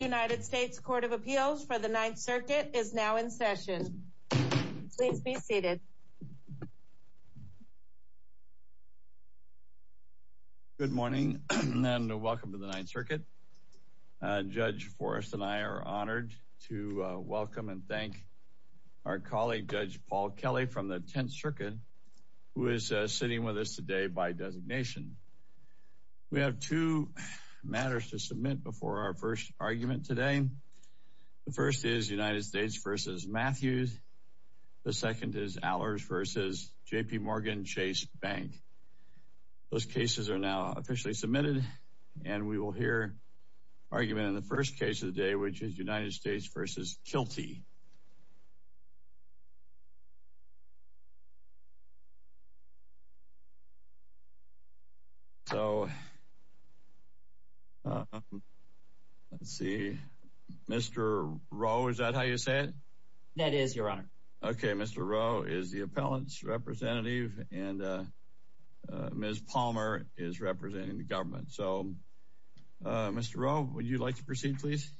United States Court of Appeals for the Ninth Circuit is now in session. Please be seated. Good morning and welcome to the Ninth Circuit. Judge Forrest and I are honored to welcome and thank our colleague Judge Paul Kelly from the Tenth Circuit who is sitting with us today by argument today. The first is United States v. Matthews. The second is Allers v. JPMorgan Chase Bank. Those cases are now officially submitted and we will hear argument in the first case of the day which is United States v. Kilty. So, let's see. Mr. Rowe, is that how you say it? That is, Your Honor. Okay, Mr. Rowe is the appellant's representative and Ms. Palmer is representing the government. So, Mr. Rowe, would you like to proceed, please?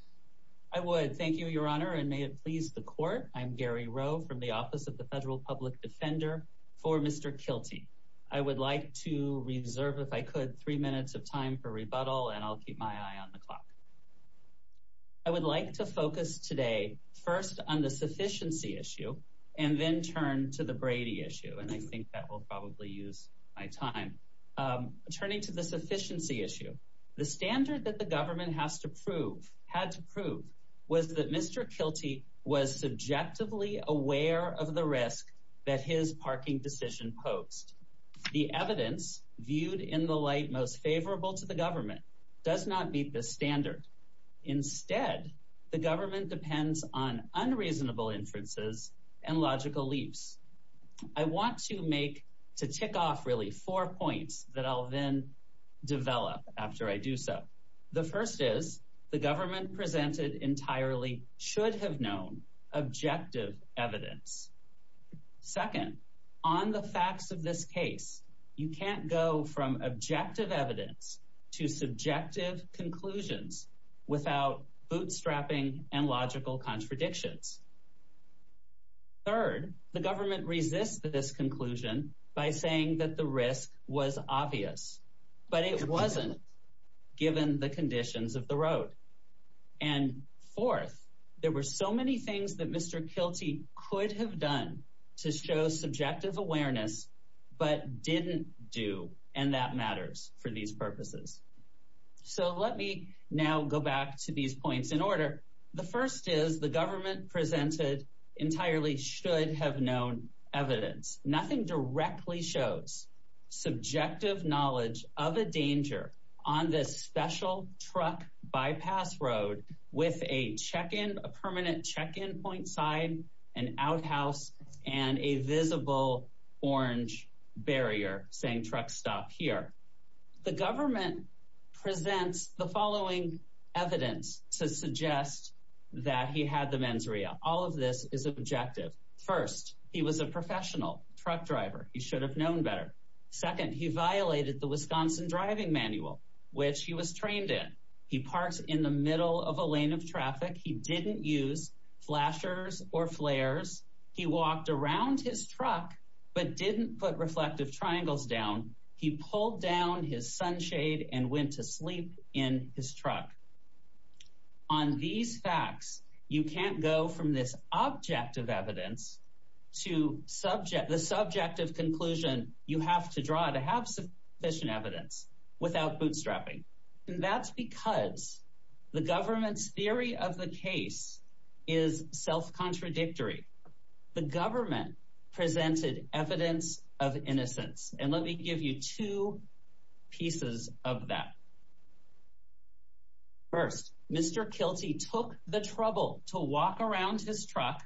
I would. Thank you, Your Honor and may it please the court. I'm Gary Rowe from the Office of the Federal Public Defender for Mr. Kilty. I would like to reserve, if I could, three minutes of time for rebuttal and I'll keep my eye on the clock. I would like to focus today first on the sufficiency issue and then turn to the Brady issue and I think that will probably use my time. Turning to the sufficiency issue, the standard that the government had to prove was that Mr. Kilty was subjectively aware of the risk that his parking decision posed. The evidence viewed in the light most favorable to the government does not meet this standard. Instead, the government depends on unreasonable inferences and logical leaps. I want to make, to tick off really, four points that I'll then develop after I do so. The first is, the government presented entirely should have known objective evidence. Second, on the facts of this case, you can't go from objective evidence to subjective conclusions without bootstrapping and logical contradictions. Third, the government resists this conclusion by saying that the risk was obvious, but it wasn't given the conditions of the road. And fourth, there were so many things that Mr. Kilty could have done to show subjective awareness but didn't do and that matters for these purposes. So let me now go back to these points in order. The first is the government presented entirely should have known evidence. Nothing directly shows subjective knowledge of a danger on this special truck bypass road with a check-in, a permanent check-in point sign, an outhouse, and a visible orange barrier saying truck stop here. The government presents the following evidence to suggest that he had the mens rea. All of this is objective. First, he was a professional truck driver. He should have known better. Second, he violated the Wisconsin driving manual, which he was trained in. He parked in the middle of a lane of traffic. He didn't use flashers or flares. He walked around his truck but didn't put reflective triangles down. He pulled down his sunshade and went to sleep in his truck. On these facts, you can't go from this objective evidence to the subjective conclusion you of the case is self-contradictory. The government presented evidence of innocence. And let me give you two pieces of that. First, Mr. Kilty took the trouble to walk around his truck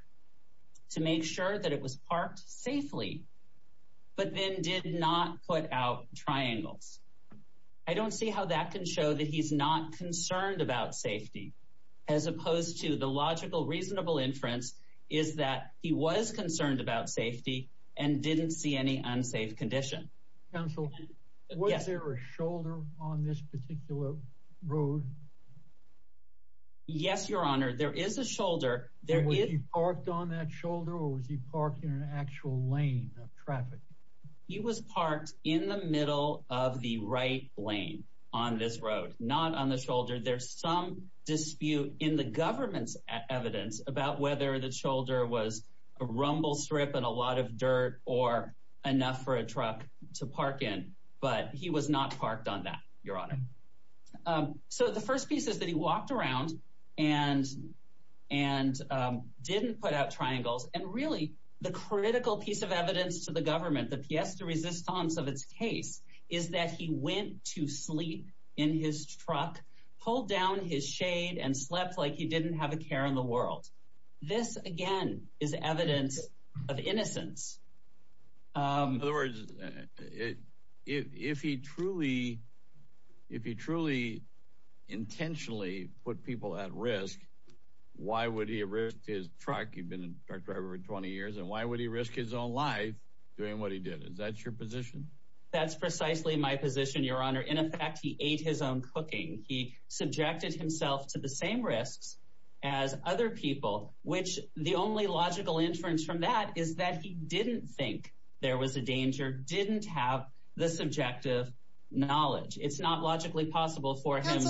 to make sure that it was parked safely but then did not put out triangles. I don't see how that can show that he's not concerned about safety, as opposed to the logical, reasonable inference is that he was concerned about safety and didn't see any unsafe condition. Counsel, was there a shoulder on this particular road? Yes, Your Honor, there is a shoulder. Was he parked on that shoulder or was he parked in an actual lane of traffic? He was parked in the middle of the right lane on this road, not on the shoulder. There's some dispute in the government's evidence about whether the shoulder was a rumble strip and a lot of dirt or enough for a truck to park in. But he was not parked on that, Your Honor. So the first piece is that he walked around and didn't put out triangles. And really, the critical piece of government, the piece de resistance of its case, is that he went to sleep in his truck, pulled down his shade and slept like he didn't have a care in the world. This, again, is evidence of innocence. In other words, if he truly, if he truly intentionally put people at risk, why would he risk his truck? He'd been a truck driver for 20 years. And why would he risk his life doing what he did? Is that your position? That's precisely my position, Your Honor. In effect, he ate his own cooking. He subjected himself to the same risks as other people, which the only logical inference from that is that he didn't think there was a danger, didn't have the subjective knowledge. It's not logically possible for him.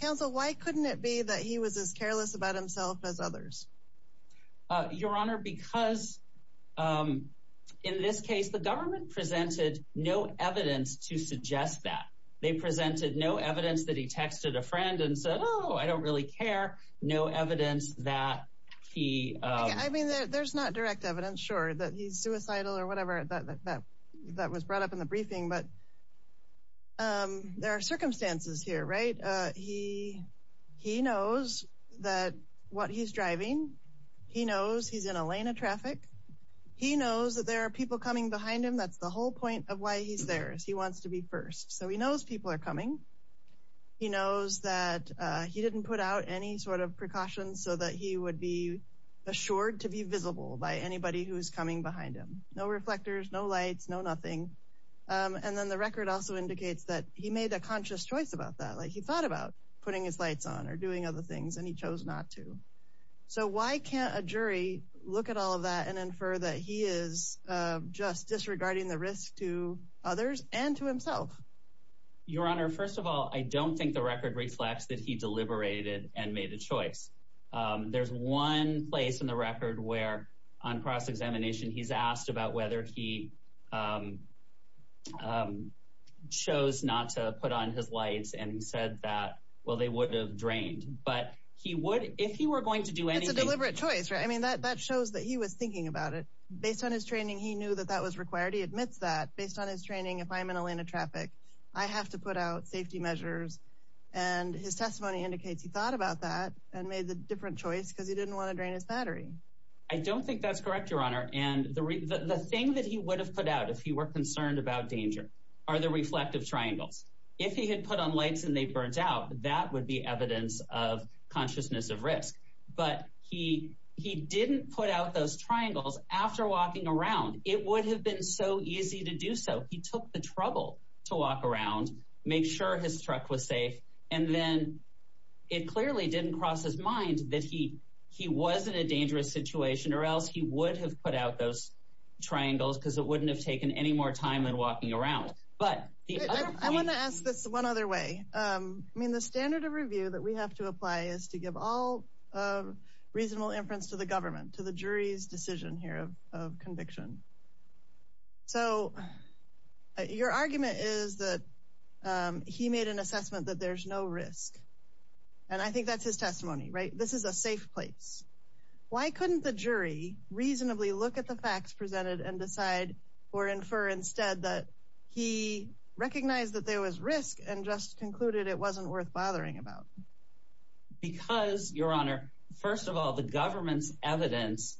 Counsel, why couldn't it be that he was as careless about himself as others? Your Honor, because in this case, the government presented no evidence to suggest that. They presented no evidence that he texted a friend and said, Oh, I don't really care. No evidence that he, I mean, there's not direct evidence, sure, that he's suicidal or whatever. That was brought up in the briefing. But there are circumstances here, right? He, he knows that what he's driving, he knows he's in a lane of traffic. He knows that there are people coming behind him. That's the whole point of why he's there is he wants to be first. So he knows people are coming. He knows that he didn't put out any sort of precautions so that he would be assured to be visible by anybody who's coming behind him. No reflectors, no lights, no nothing. And then the record also indicates that he made a conscious choice about that. Like he thought about putting his lights on or doing other things, and he chose not to. So why can't a jury look at all of that and infer that he is just disregarding the risk to others and to himself? Your Honor, first of all, I don't think the record reflects that he deliberated and made a choice. There's one place in the record where on cross-examination, he's asked about whether he chose not to put on his lights and said that, well, they would have drained. But he would, if he were going to do anything. It's a deliberate choice, right? I mean, that shows that he was thinking about it. Based on his training, he knew that that was required. He admits that based on his training, if I'm in a lane of traffic, I have to put out safety measures. And his testimony indicates he thought about that and made the different choice because he didn't want to drain his battery. I don't think that's correct, Your Honor. And the thing that he would have put out if he were concerned about danger are the reflective triangles. If he had put on lights and they burnt out, that would be evidence of consciousness of risk. But he didn't put out those triangles after walking around. It would have been so easy to do so. He took the trouble to walk around, make sure his truck was safe, and then it clearly didn't cross his mind that he was in a dangerous situation or else he would have put out those triangles because it wouldn't have taken any more time than walking around. I want to ask this one other way. I mean, the standard of review that we have to apply is to give all reasonable inference to the government, to the jury's decision here of conviction. So your argument is that he made an assessment that there's no risk. And I think that's his testimony, right? This is a safe place. Why couldn't the jury reasonably look at the facts presented and decide or infer instead that he recognized that there was risk and just concluded it wasn't worth bothering about? Because, Your Honor, first of all, the government's evidence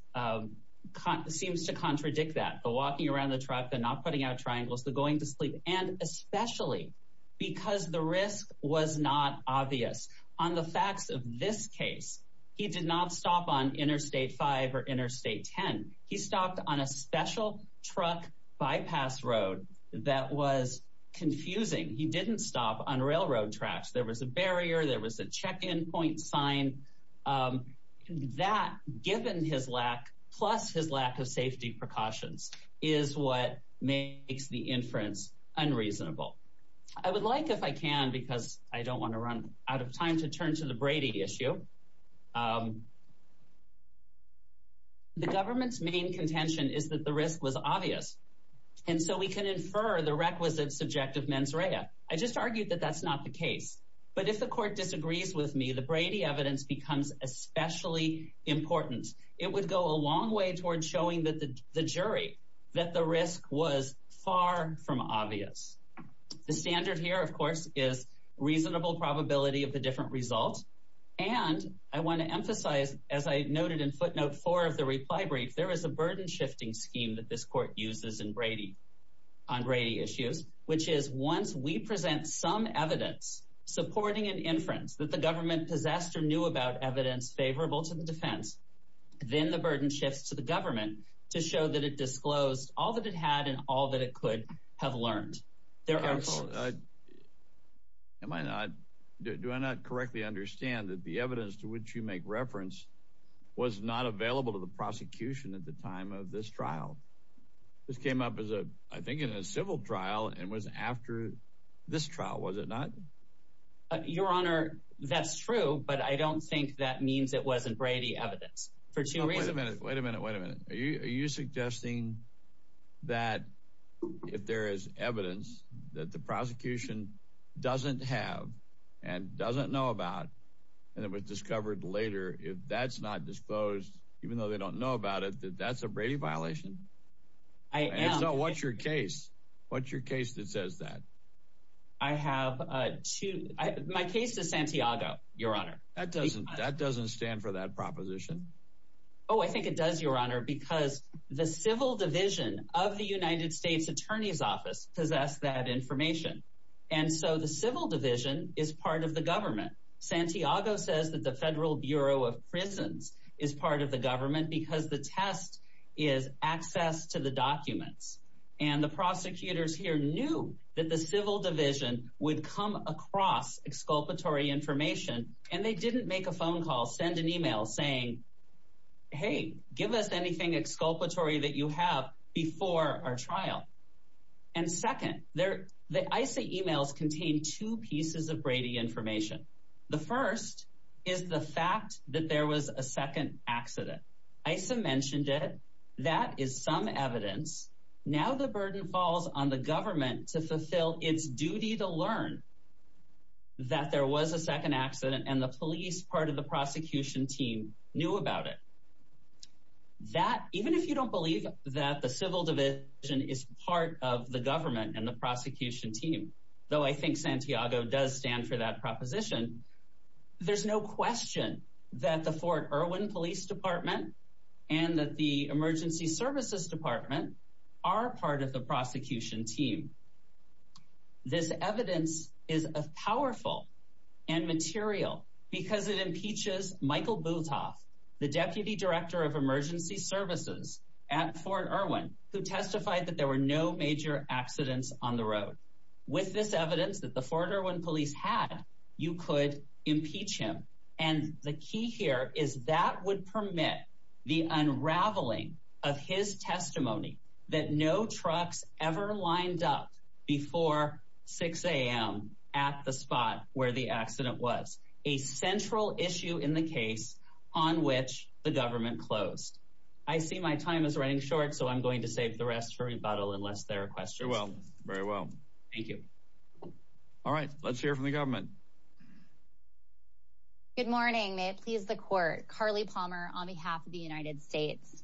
seems to contradict that. The walking around the truck, the not putting out triangles, the going to sleep, and especially because the risk was not obvious. On the facts of this case, he did not stop on Interstate 5 or Interstate 10. He stopped on a special truck bypass road that was confusing. He didn't stop on railroad tracks. There was a barrier. There was a check-in point sign. That, given his lack, plus his lack of safety precautions, is what makes the inference unreasonable. I would like, if I can, because I don't want to run out of time, to turn to the Brady issue. The government's main contention is that the risk was obvious, and so we can infer the requisite subjective mens rea. I just argued that that's not the case. But if the court disagrees with me, the Brady evidence becomes especially important. It would go a long way toward showing the jury that the risk was far from obvious. The standard here, of course, is reasonable probability of the different results. And I want to emphasize, as I noted in footnote four of the reply brief, there is a burden-shifting scheme that this court uses on Brady issues, which is once we present some evidence supporting an inference that the to the government to show that it disclosed all that it had and all that it could have learned. Do I not correctly understand that the evidence to which you make reference was not available to the prosecution at the time of this trial? This came up as a, I think, in a civil trial and was after this trial, was it not? Your Honor, that's true, but I don't think that means it wasn't Brady evidence. For two reasons. Wait a minute, wait a minute, wait a minute. Are you suggesting that if there is evidence that the prosecution doesn't have and doesn't know about, and it was discovered later, if that's not disclosed, even though they don't know about it, that that's a Brady violation? I am. So what's your case? What's your case that says that? I have two. My case is Santiago, Your Honor. That doesn't that doesn't stand for that proposition. Oh, I think it does, Your Honor, because the civil division of the United States Attorney's Office possess that information. And so the civil division is part of the government. Santiago says that the Federal Bureau of Prisons is part of the government because the test is access to the documents. And the prosecutors here knew that the civil division would come across exculpatory information, and they didn't make a phone call, send an email saying, Hey, give us anything exculpatory that you have before our trial. And second, there, the ICA emails contain two pieces of Brady information. The first is the fact that there was a second accident. ICA mentioned it. That is some evidence. Now the burden falls on the government to fulfill its duty to learn that there was a second accident, and the police part of the prosecution team knew about it. That even if you don't believe that the civil division is part of the government and the prosecution team, though, I think Santiago does stand for that proposition. There's no question that the Fort Irwin Police Department and that the Emergency Services Department are part of the prosecution team. This evidence is a powerful and material because it impeaches Michael Bultoff, the Deputy Director of Emergency Services at Fort Irwin, who testified that there were no major accidents on the road. With this evidence that the Fort Irwin Police had, you could impeach him. And the key here is that would permit the unraveling of his testimony that no trucks ever lined up before 6 a.m. at the spot where the accident was, a central issue in the case on which the government closed. I see my time is running short, so I'm going to save the rest for rebuttal unless there are questions. Very well. Thank you. All right. Let's hear from the government. Good morning. May it please the court. Carly Palmer on behalf of the United States.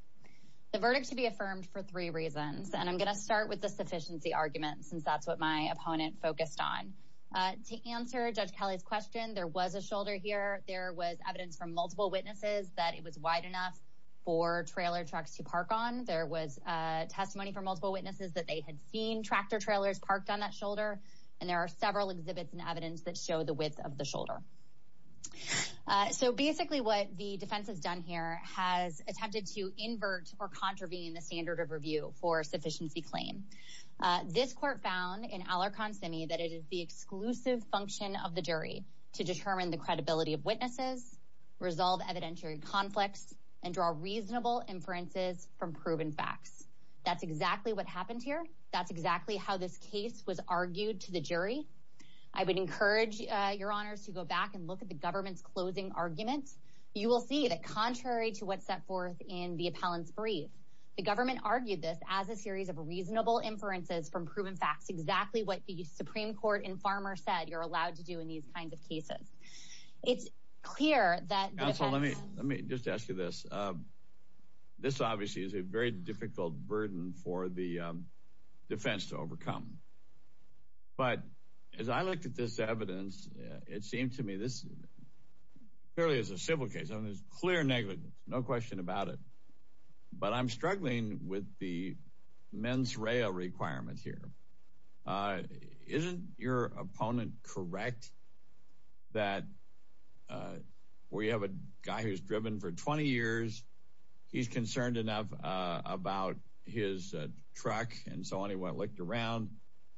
The verdict to be affirmed for three reasons, and I'm going to start with the sufficiency argument since that's what my opponent focused on. To answer Judge Kelly's question, there was a shoulder here. There was evidence from multiple witnesses that it was wide enough for trailer trucks to park on. There was testimony from multiple witnesses that they had seen tractor trailers parked on that shoulder, and there are several exhibits and evidence that show the width of the shoulder. So basically what the defense has done here has attempted to invert or contravene the standard of review for sufficiency claim. This court found in Alarcon Simi that it is the exclusive function of the jury to determine the credibility of witnesses, resolve evidentiary conflicts, and draw reasonable inferences from proven facts. That's exactly what happened here. That's exactly how this case was argued to the jury. I would encourage your honors to go back and look at the government's closing arguments. You will see that contrary to what's set forth in the appellant's brief, the government argued this as a series of reasonable inferences from proven facts, exactly what the Supreme Court and Farmer said you're allowed to do in these kinds of cases. It's clear that- Counsel, let me just ask you this. This obviously is a very difficult burden for the defense to overcome, but as I looked at this evidence, it seemed to me this clearly is a civil case. I mean, there's clear negligence, no question about it, but I'm struggling with the mens rea requirement here. Isn't your opponent correct that when you have a guy who's driven for 20 years, he's concerned enough about his truck and so on, he went and looked around.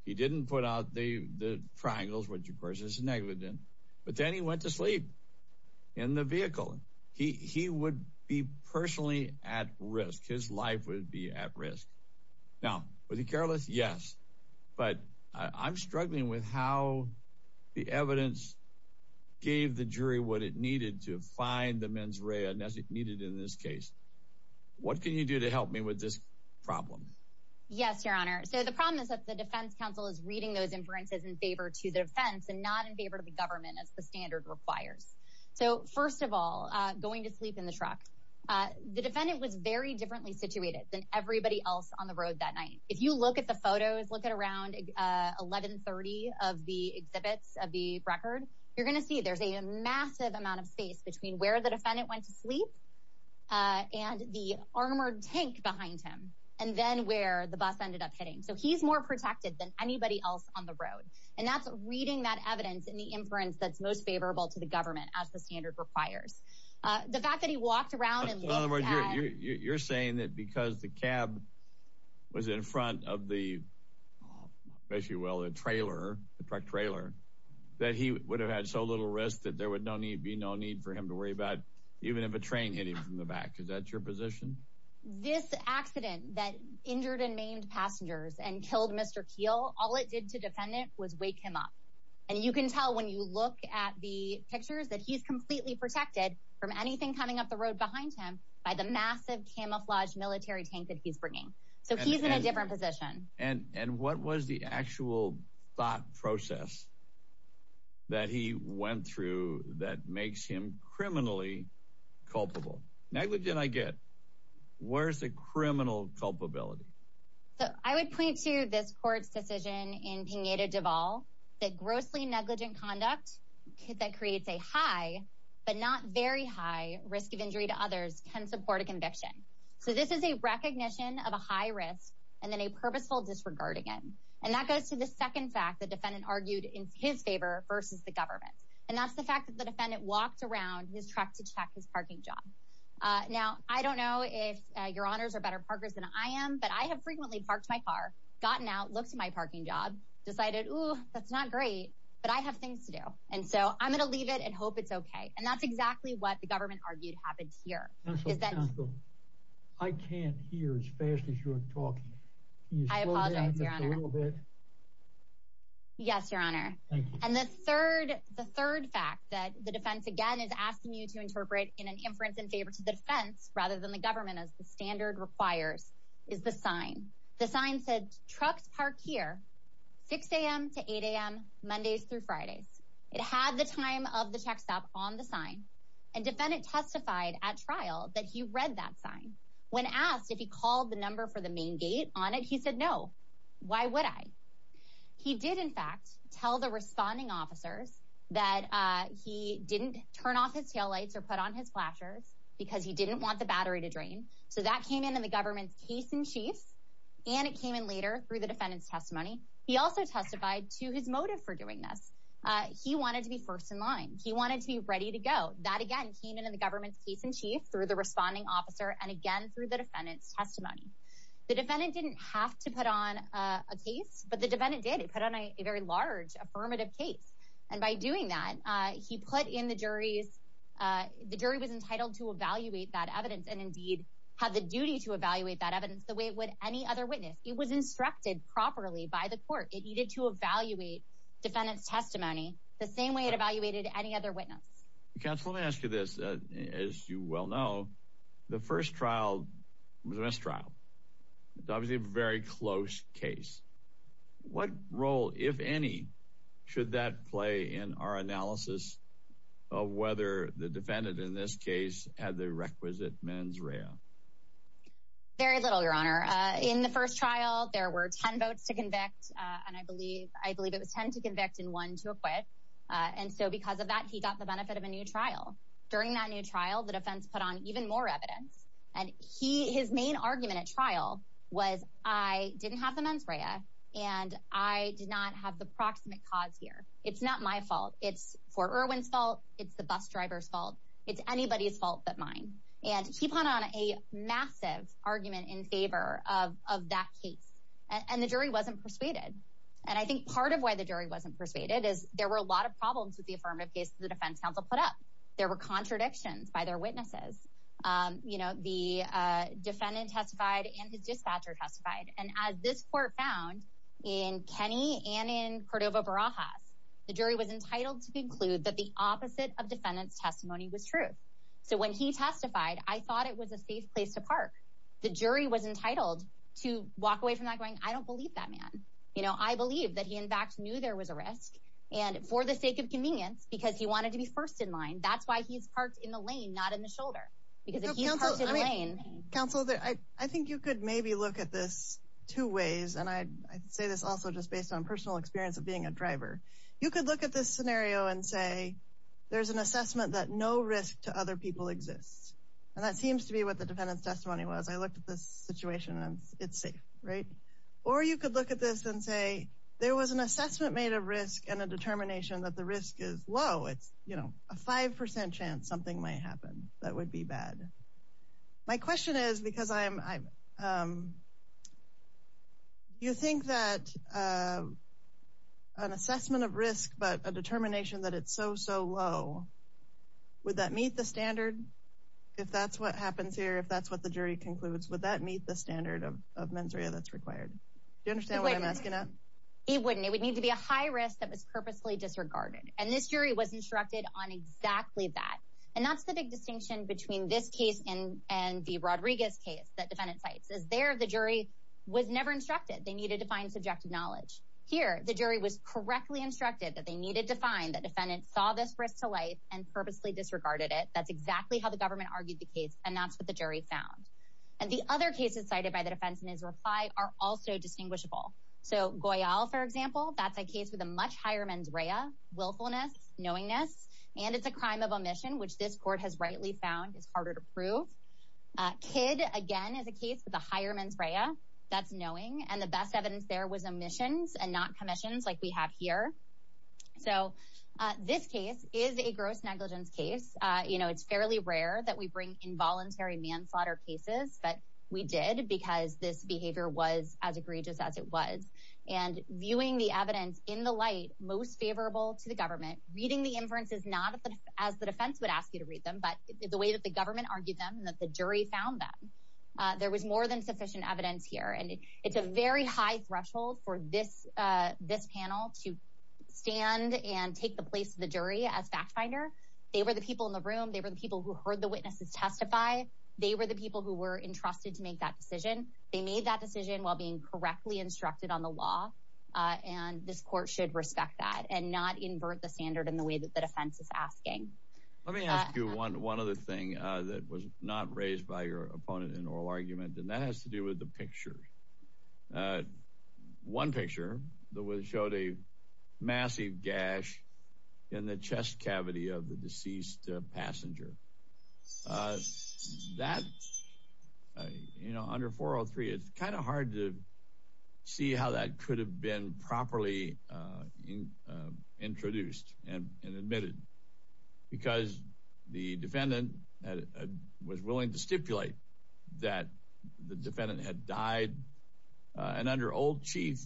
He didn't put out the triangles, which of course is negligent, but then he went to sleep in the vehicle. He would be personally at risk. His life would be at risk. Now, was he careless? Yes, but I'm struggling with how the evidence gave the jury what it needed to find the mens rea as it needed in this case. What can you do to help me with this problem? Yes, your honor. So the problem is that the defense counsel is reading those inferences in favor to the defense and not in favor to the government as the standard requires. So first of all, going to sleep in the truck. The defendant was very differently situated than everybody else on the road that night. If you look at the photos, look at around 1130 of the exhibits of the record, you're going to see there's a massive amount of space between where the defendant went to sleep and the armored tank behind him, and then where the bus ended up hitting. So he's more protected than anybody else on the road. And that's reading that evidence in the inference that's most favorable to the government as the standard requires. The fact that he walked around and you're saying that because the cab was in front of the issue, well, the trailer, the truck trailer, that he would have had so little risk that there would no need be no need for him to worry about even if a train hit him from the back. Is that your position? This accident that injured and maimed passengers and killed Mr. Keel, all it did to defendant was wake him up. And you can tell when you look at the pictures that he's completely protected from anything coming up the road behind him by the massive camouflage military tank that he's bringing. So he's in a different position. And what was the actual thought process that he went through that makes him criminally culpable? Negligent, I get. Where's the criminal culpability? So I would point to this court's decision in Pineda Duval that grossly negligent conduct that creates a high but not very high risk of injury to others can support a conviction. So this is a recognition of a high risk and then a purposeful disregard again. And that goes to the second fact, the defendant argued in his favor versus the government. And that's the fact that the defendant walked around his truck to check his parking job. Now, I don't know if your honors are better partners than I am, but I have frequently parked my car, gotten out, looked at my parking job, decided, oh, that's not great, but I have things to do. And so I'm going to leave it and hope it's OK. And that's exactly what the government argued happened here. I can't hear as fast as you're talking. I apologize. Yes, your honor. And the third the third fact that the defense again is asking you to interpret in an inference in favor to the defense rather than the government, as the standard requires, is the sign. The sign said trucks park here 6 a.m. to 8 a.m. Mondays through Fridays. It had the time of the check stop on the sign. And defendant testified at trial that he read that sign when asked if he called the number for the main gate on it. He said, no, why would I? He did, in fact, tell the responding officers that he didn't turn off his taillights or put on his flashers because he didn't want the battery to drain. So that came in in the government's case in chief. And it came in later through the defendant's testimony. He also testified to his motive for doing this. He wanted to be first in line. He wanted to be ready to go. That, again, came into the government's case in chief through the responding officer and again through the defendant's testimony. The defendant didn't have to put on a case, but the defendant did. He put on a very large affirmative case. And by doing that, he put in the jury's, the jury was entitled to evaluate that evidence and indeed have the duty to evaluate that evidence the way it would any other witness. It was instructed properly by the court. It needed to evaluate defendant's testimony the same way it evaluated any other witness. Counsel, let me ask you this. As you well know, the first trial was a mistrial. It was a very close case. What role, if any, should that play in our analysis of whether the defendant in this case had the requisite mens rea? Very little, your honor. In the first trial, there were 10 votes to convict. And I believe, I believe it was 10 to convict and one to acquit. And so because of that, he got the benefit of a trial. During that new trial, the defense put on even more evidence and his main argument at trial was I didn't have the mens rea and I did not have the proximate cause here. It's not my fault. It's Fort Irwin's fault. It's the bus driver's fault. It's anybody's fault but mine. And he put on a massive argument in favor of that case and the jury wasn't persuaded. And I think part of why the jury wasn't persuaded is there were a lot of problems with the affirmative case the defense counsel put up. There were contradictions by their witnesses. You know, the defendant testified and his dispatcher testified. And as this court found in Kenney and in Cordova Barajas, the jury was entitled to conclude that the opposite of defendant's testimony was true. So when he testified, I thought it was a safe place to park. The jury was entitled to walk away from that going I don't believe that man. You know, I believe that he in fact knew there was a risk and for the sake of that's why he's parked in the lane, not in the shoulder. Because if he's parked in the lane. Counsel, I think you could maybe look at this two ways. And I say this also just based on personal experience of being a driver. You could look at this scenario and say there's an assessment that no risk to other people exists. And that seems to be what the defendant's testimony was. I looked at this situation and it's safe, right? Or you could look at this and say there was an assessment made of risk and a determination that the risk is low. It's, you know, a 5% chance something might happen that would be bad. My question is because you think that an assessment of risk, but a determination that it's so, so low, would that meet the standard? If that's what happens here, if that's what the jury concludes, would that meet the standard of mens rea that's required? Do you understand what I'm asking? He wouldn't. It would need to be a high risk that was purposely disregarded. And this jury was instructed on exactly that. And that's the big distinction between this case and the Rodriguez case that defendant sites is there. The jury was never instructed. They needed to find subjective knowledge here. The jury was correctly instructed that they needed to find that defendant saw this risk to life and purposely disregarded it. That's exactly how the government argued the case. And that's what the jury found. And the other cases cited by the defense in his reply are also distinguishable. So Goyal, for example, that's a case with a much higher mens rea, willfulness, knowingness, and it's a crime of omission, which this court has rightly found is harder to prove. Kidd, again, is a case with a higher mens rea. That's knowing. And the best evidence there was omissions and not commissions like we have here. So this case is a gross negligence case. You know, it's fairly rare that we bring involuntary manslaughter cases. But we did because this behavior was as egregious as it was. And viewing the evidence in the light most favorable to the government, reading the inferences, not as the defense would ask you to read them, but the way that the government argued them, that the jury found that there was more than sufficient evidence here. And it's a very high threshold for this this panel to stand and take the place of the jury as fact finder. They were the people in the room. They were the people who heard the witnesses testify. They were the people who were entrusted to make that decision. They made that decision while being correctly instructed on the law. And this court should respect that and not invert the standard in the way that the defense is asking. Let me ask you one other thing that was not raised by your opponent in oral argument. And that has to do with the picture. One picture that showed a massive gash in the chest cavity of the deceased passenger. That, you know, under 403, it's kind of hard to see how that could have been properly introduced and admitted. Because the defendant was willing to stipulate that the defendant had died. And under old chief,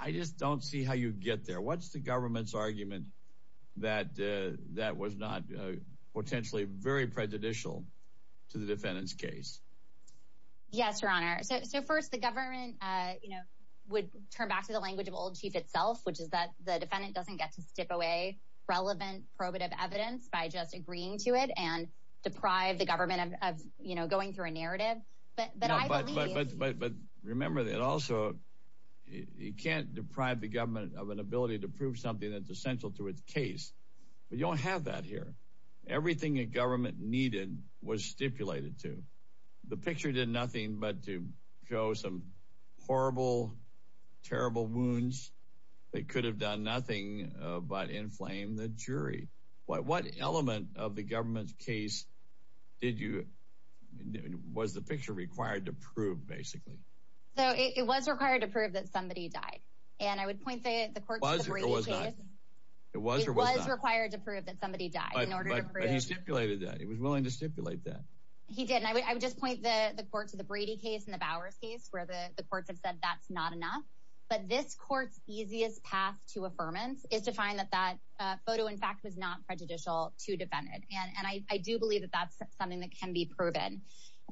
I just don't see how you get there. What's the government's argument that that was not potentially very prejudicial to the defendant's case? Yes, your honor. So first, the government, you know, would turn back to the language of old chief itself, which is that the defendant doesn't get to step away relevant probative evidence by just agreeing to it and deprive the government of, you know, going through a narrative. But remember that also, you can't deprive the government of an ability to prove something that's essential to its case. But you don't have that here. Everything a government needed was stipulated to the picture did nothing but to show some horrible, terrible wounds that could have done nothing but inflame the jury. What element of the government's case did you, was the picture required to prove basically? So it was required to prove that somebody died. And I would point the court to the Brady case. It was or was not? It was required to prove that somebody died. But he stipulated that. He was willing to stipulate that. He did. And I would just point the court to the Brady case and the Bowers case where the courts have said that's not enough. But this court's easiest path to not prejudicial to defend it. And I do believe that that's something that can be proven.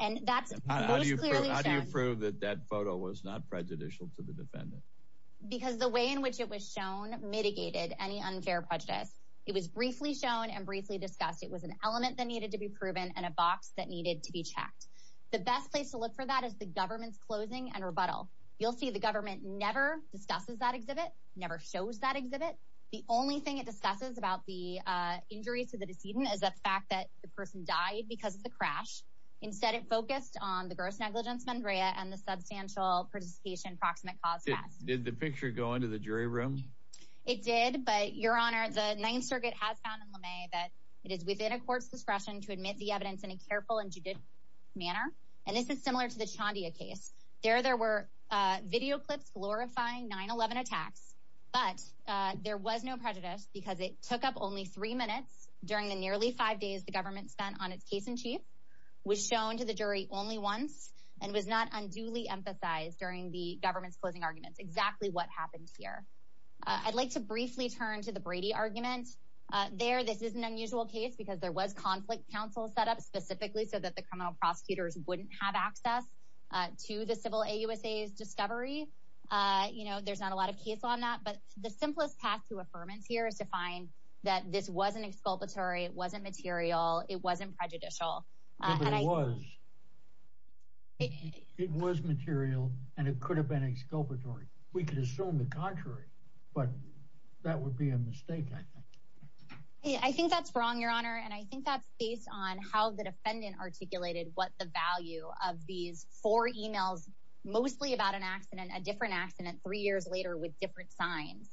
And that's how do you prove that that photo was not prejudicial to the defendant? Because the way in which it was shown mitigated any unfair prejudice. It was briefly shown and briefly discussed. It was an element that needed to be proven and a box that needed to be checked. The best place to look for that is the government's closing and rebuttal. You'll see the government never discusses that exhibit, never shows that exhibit. The only thing it discusses about the injuries to the decedent is the fact that the person died because of the crash. Instead, it focused on the gross negligence, Mandrea, and the substantial participation approximate cost. Did the picture go into the jury room? It did. But your honor, the Ninth Circuit has found that it is within a court's discretion to admit the evidence in a careful and judicious manner. And this is similar to the Chondia case. There there were video clips glorifying 9-11 attacks, but there was no prejudice because it took up only three minutes during the nearly five days the government spent on its case in chief was shown to the jury only once and was not unduly emphasized during the government's closing arguments. Exactly what happened here. I'd like to briefly turn to the Brady argument there. This is an unusual case because there was conflict counsel set up specifically so that the criminal prosecutors wouldn't have access to the civil AUSA's discovery. You know, there's not a lot of case on that. But the simplest path to affirmance here is to find that this wasn't exculpatory. It wasn't material. It wasn't prejudicial. It was. It was material and it could have been exculpatory. We could assume the contrary, but that would be a mistake. I think that's wrong, of these four emails, mostly about an accident, a different accident three years later with different signs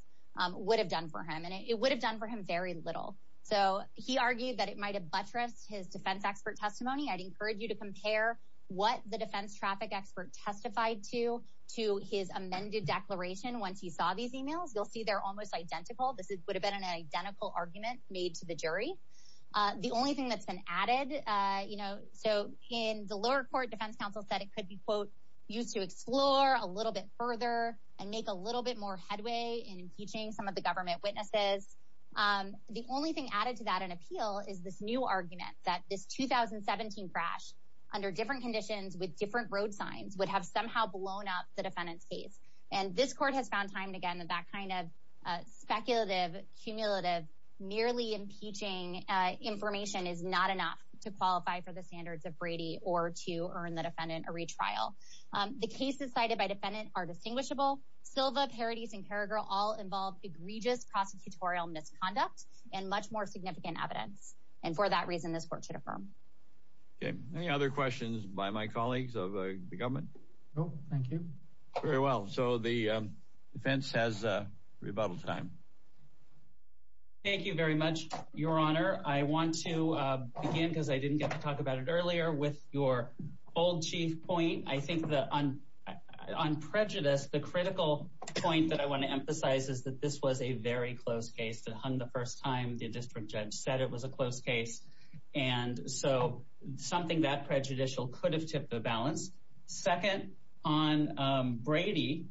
would have done for him and it would have done for him very little. So he argued that it might have buttressed his defense expert testimony. I'd encourage you to compare what the defense traffic expert testified to to his amended declaration. Once he saw these emails, you'll see they're almost identical. This would have been an identical argument made to the jury. The only thing that's been added, you know, so in the lower court defense counsel said it could be, quote, used to explore a little bit further and make a little bit more headway in impeaching some of the government witnesses. The only thing added to that in appeal is this new argument that this 2017 crash under different conditions with different road signs would have somehow blown up the defendant's case. And this court has found time again that kind of speculative, cumulative, nearly impeaching information is not enough to qualify for the standards of Brady or to earn the defendant a retrial. The cases cited by defendant are distinguishable. Silva, Paradis, and Carragher all involve egregious prosecutorial misconduct and much more significant evidence. And for that reason, this court should affirm. Okay. Any other questions by my colleagues of the government? No, thank you. Very well. So the defense has a rebuttal time. Thank you very much, Your Honor. I want to begin, because I didn't get to talk about it earlier, with your old chief point. I think that on prejudice, the critical point that I want to emphasize is that this was a very close case. The first time the district judge said it was a close case. And so something that prejudicial could have tipped the balance. Second, on Brady,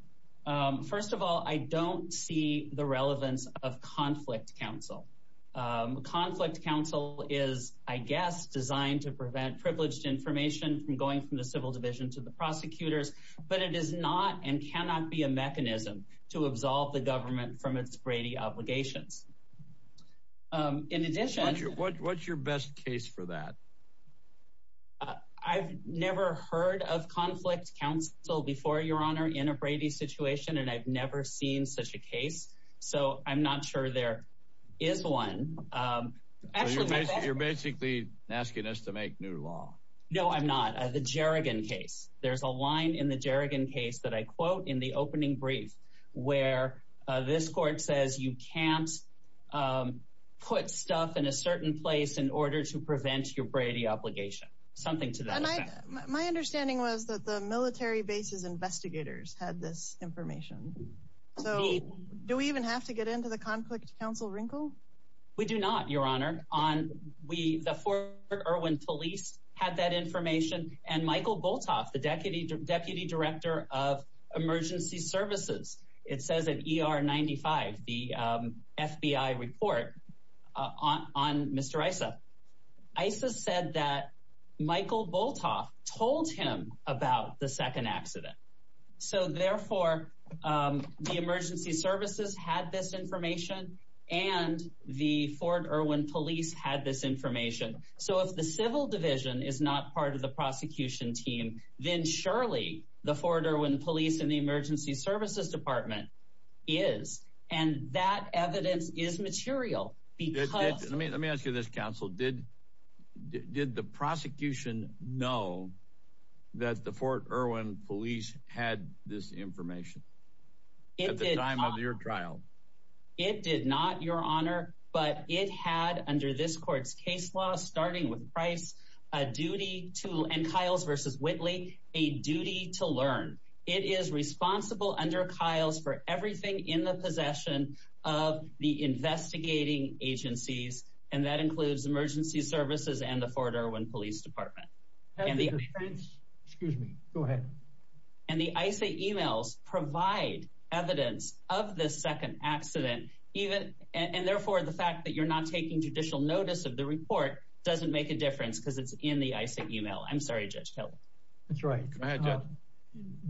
first of all, I don't see the relevance of conflict counsel. Conflict counsel is, I guess, designed to prevent privileged information from going from the civil division to the prosecutors. But it is not and cannot be a mechanism to absolve the government from its Brady obligations. In addition, what's your best case for that? I've never heard of conflict counsel before, Your Honor, in a Brady situation, and I've never seen such a case. So I'm not sure there is one. You're basically asking us to make new law. No, I'm not. The Jerrigan case. There's a line in the Jerrigan case that I quote in the opening brief where this court says you can't put stuff in a certain place in order to prevent your Brady obligation. Something to that effect. My understanding was that the military base's investigators had this information. So do we even have to get into the conflict counsel wrinkle? We do not, Your Honor. The Fort Irwin police had that information, and Michael Boltoff, the deputy director of emergency services, it says at ER 95, the FBI report on Mr. Issa. Issa said that Michael Boltoff told him about the second accident. So therefore, the emergency services had this information and the Fort Irwin police had this team. Then surely the Fort Irwin police and the emergency services department is, and that evidence is material. Let me ask you this, counsel. Did the prosecution know that the Fort Irwin police had this information at the time of your trial? It did not, Your Honor, but it had under this court's case law, starting with Price, a duty to, and Kiles versus Whitley, a duty to learn. It is responsible under Kiles for everything in the possession of the investigating agencies, and that includes emergency services and the Fort Irwin police department. Excuse me, go ahead. And the Issa emails provide evidence of this second accident, and therefore the fact that you're not taking judicial notice of the report doesn't make a difference because it's in the Issa email. I'm sorry, Judge Kelley. That's right.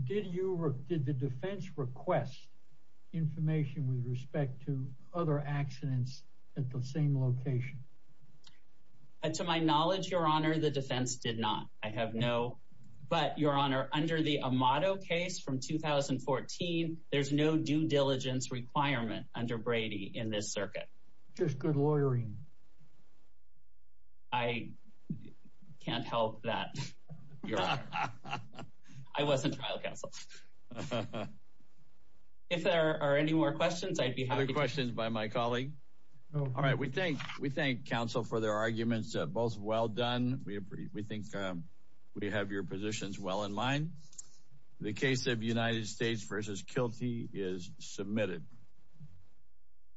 Did the defense request information with respect to other accidents at the same location? To my knowledge, Your Honor, the defense did not. I have no, but Your Honor, under the Amato case from 2014, there's no due diligence requirement under Brady in this circuit. Just good lawyering. I can't help that, Your Honor. I wasn't trial counsel. If there are any more questions, I'd be happy to... Other questions by my colleague? All right, we thank counsel for their arguments, both well done. We think we have your positions well in mind. The case of United States v. Kilty is submitted.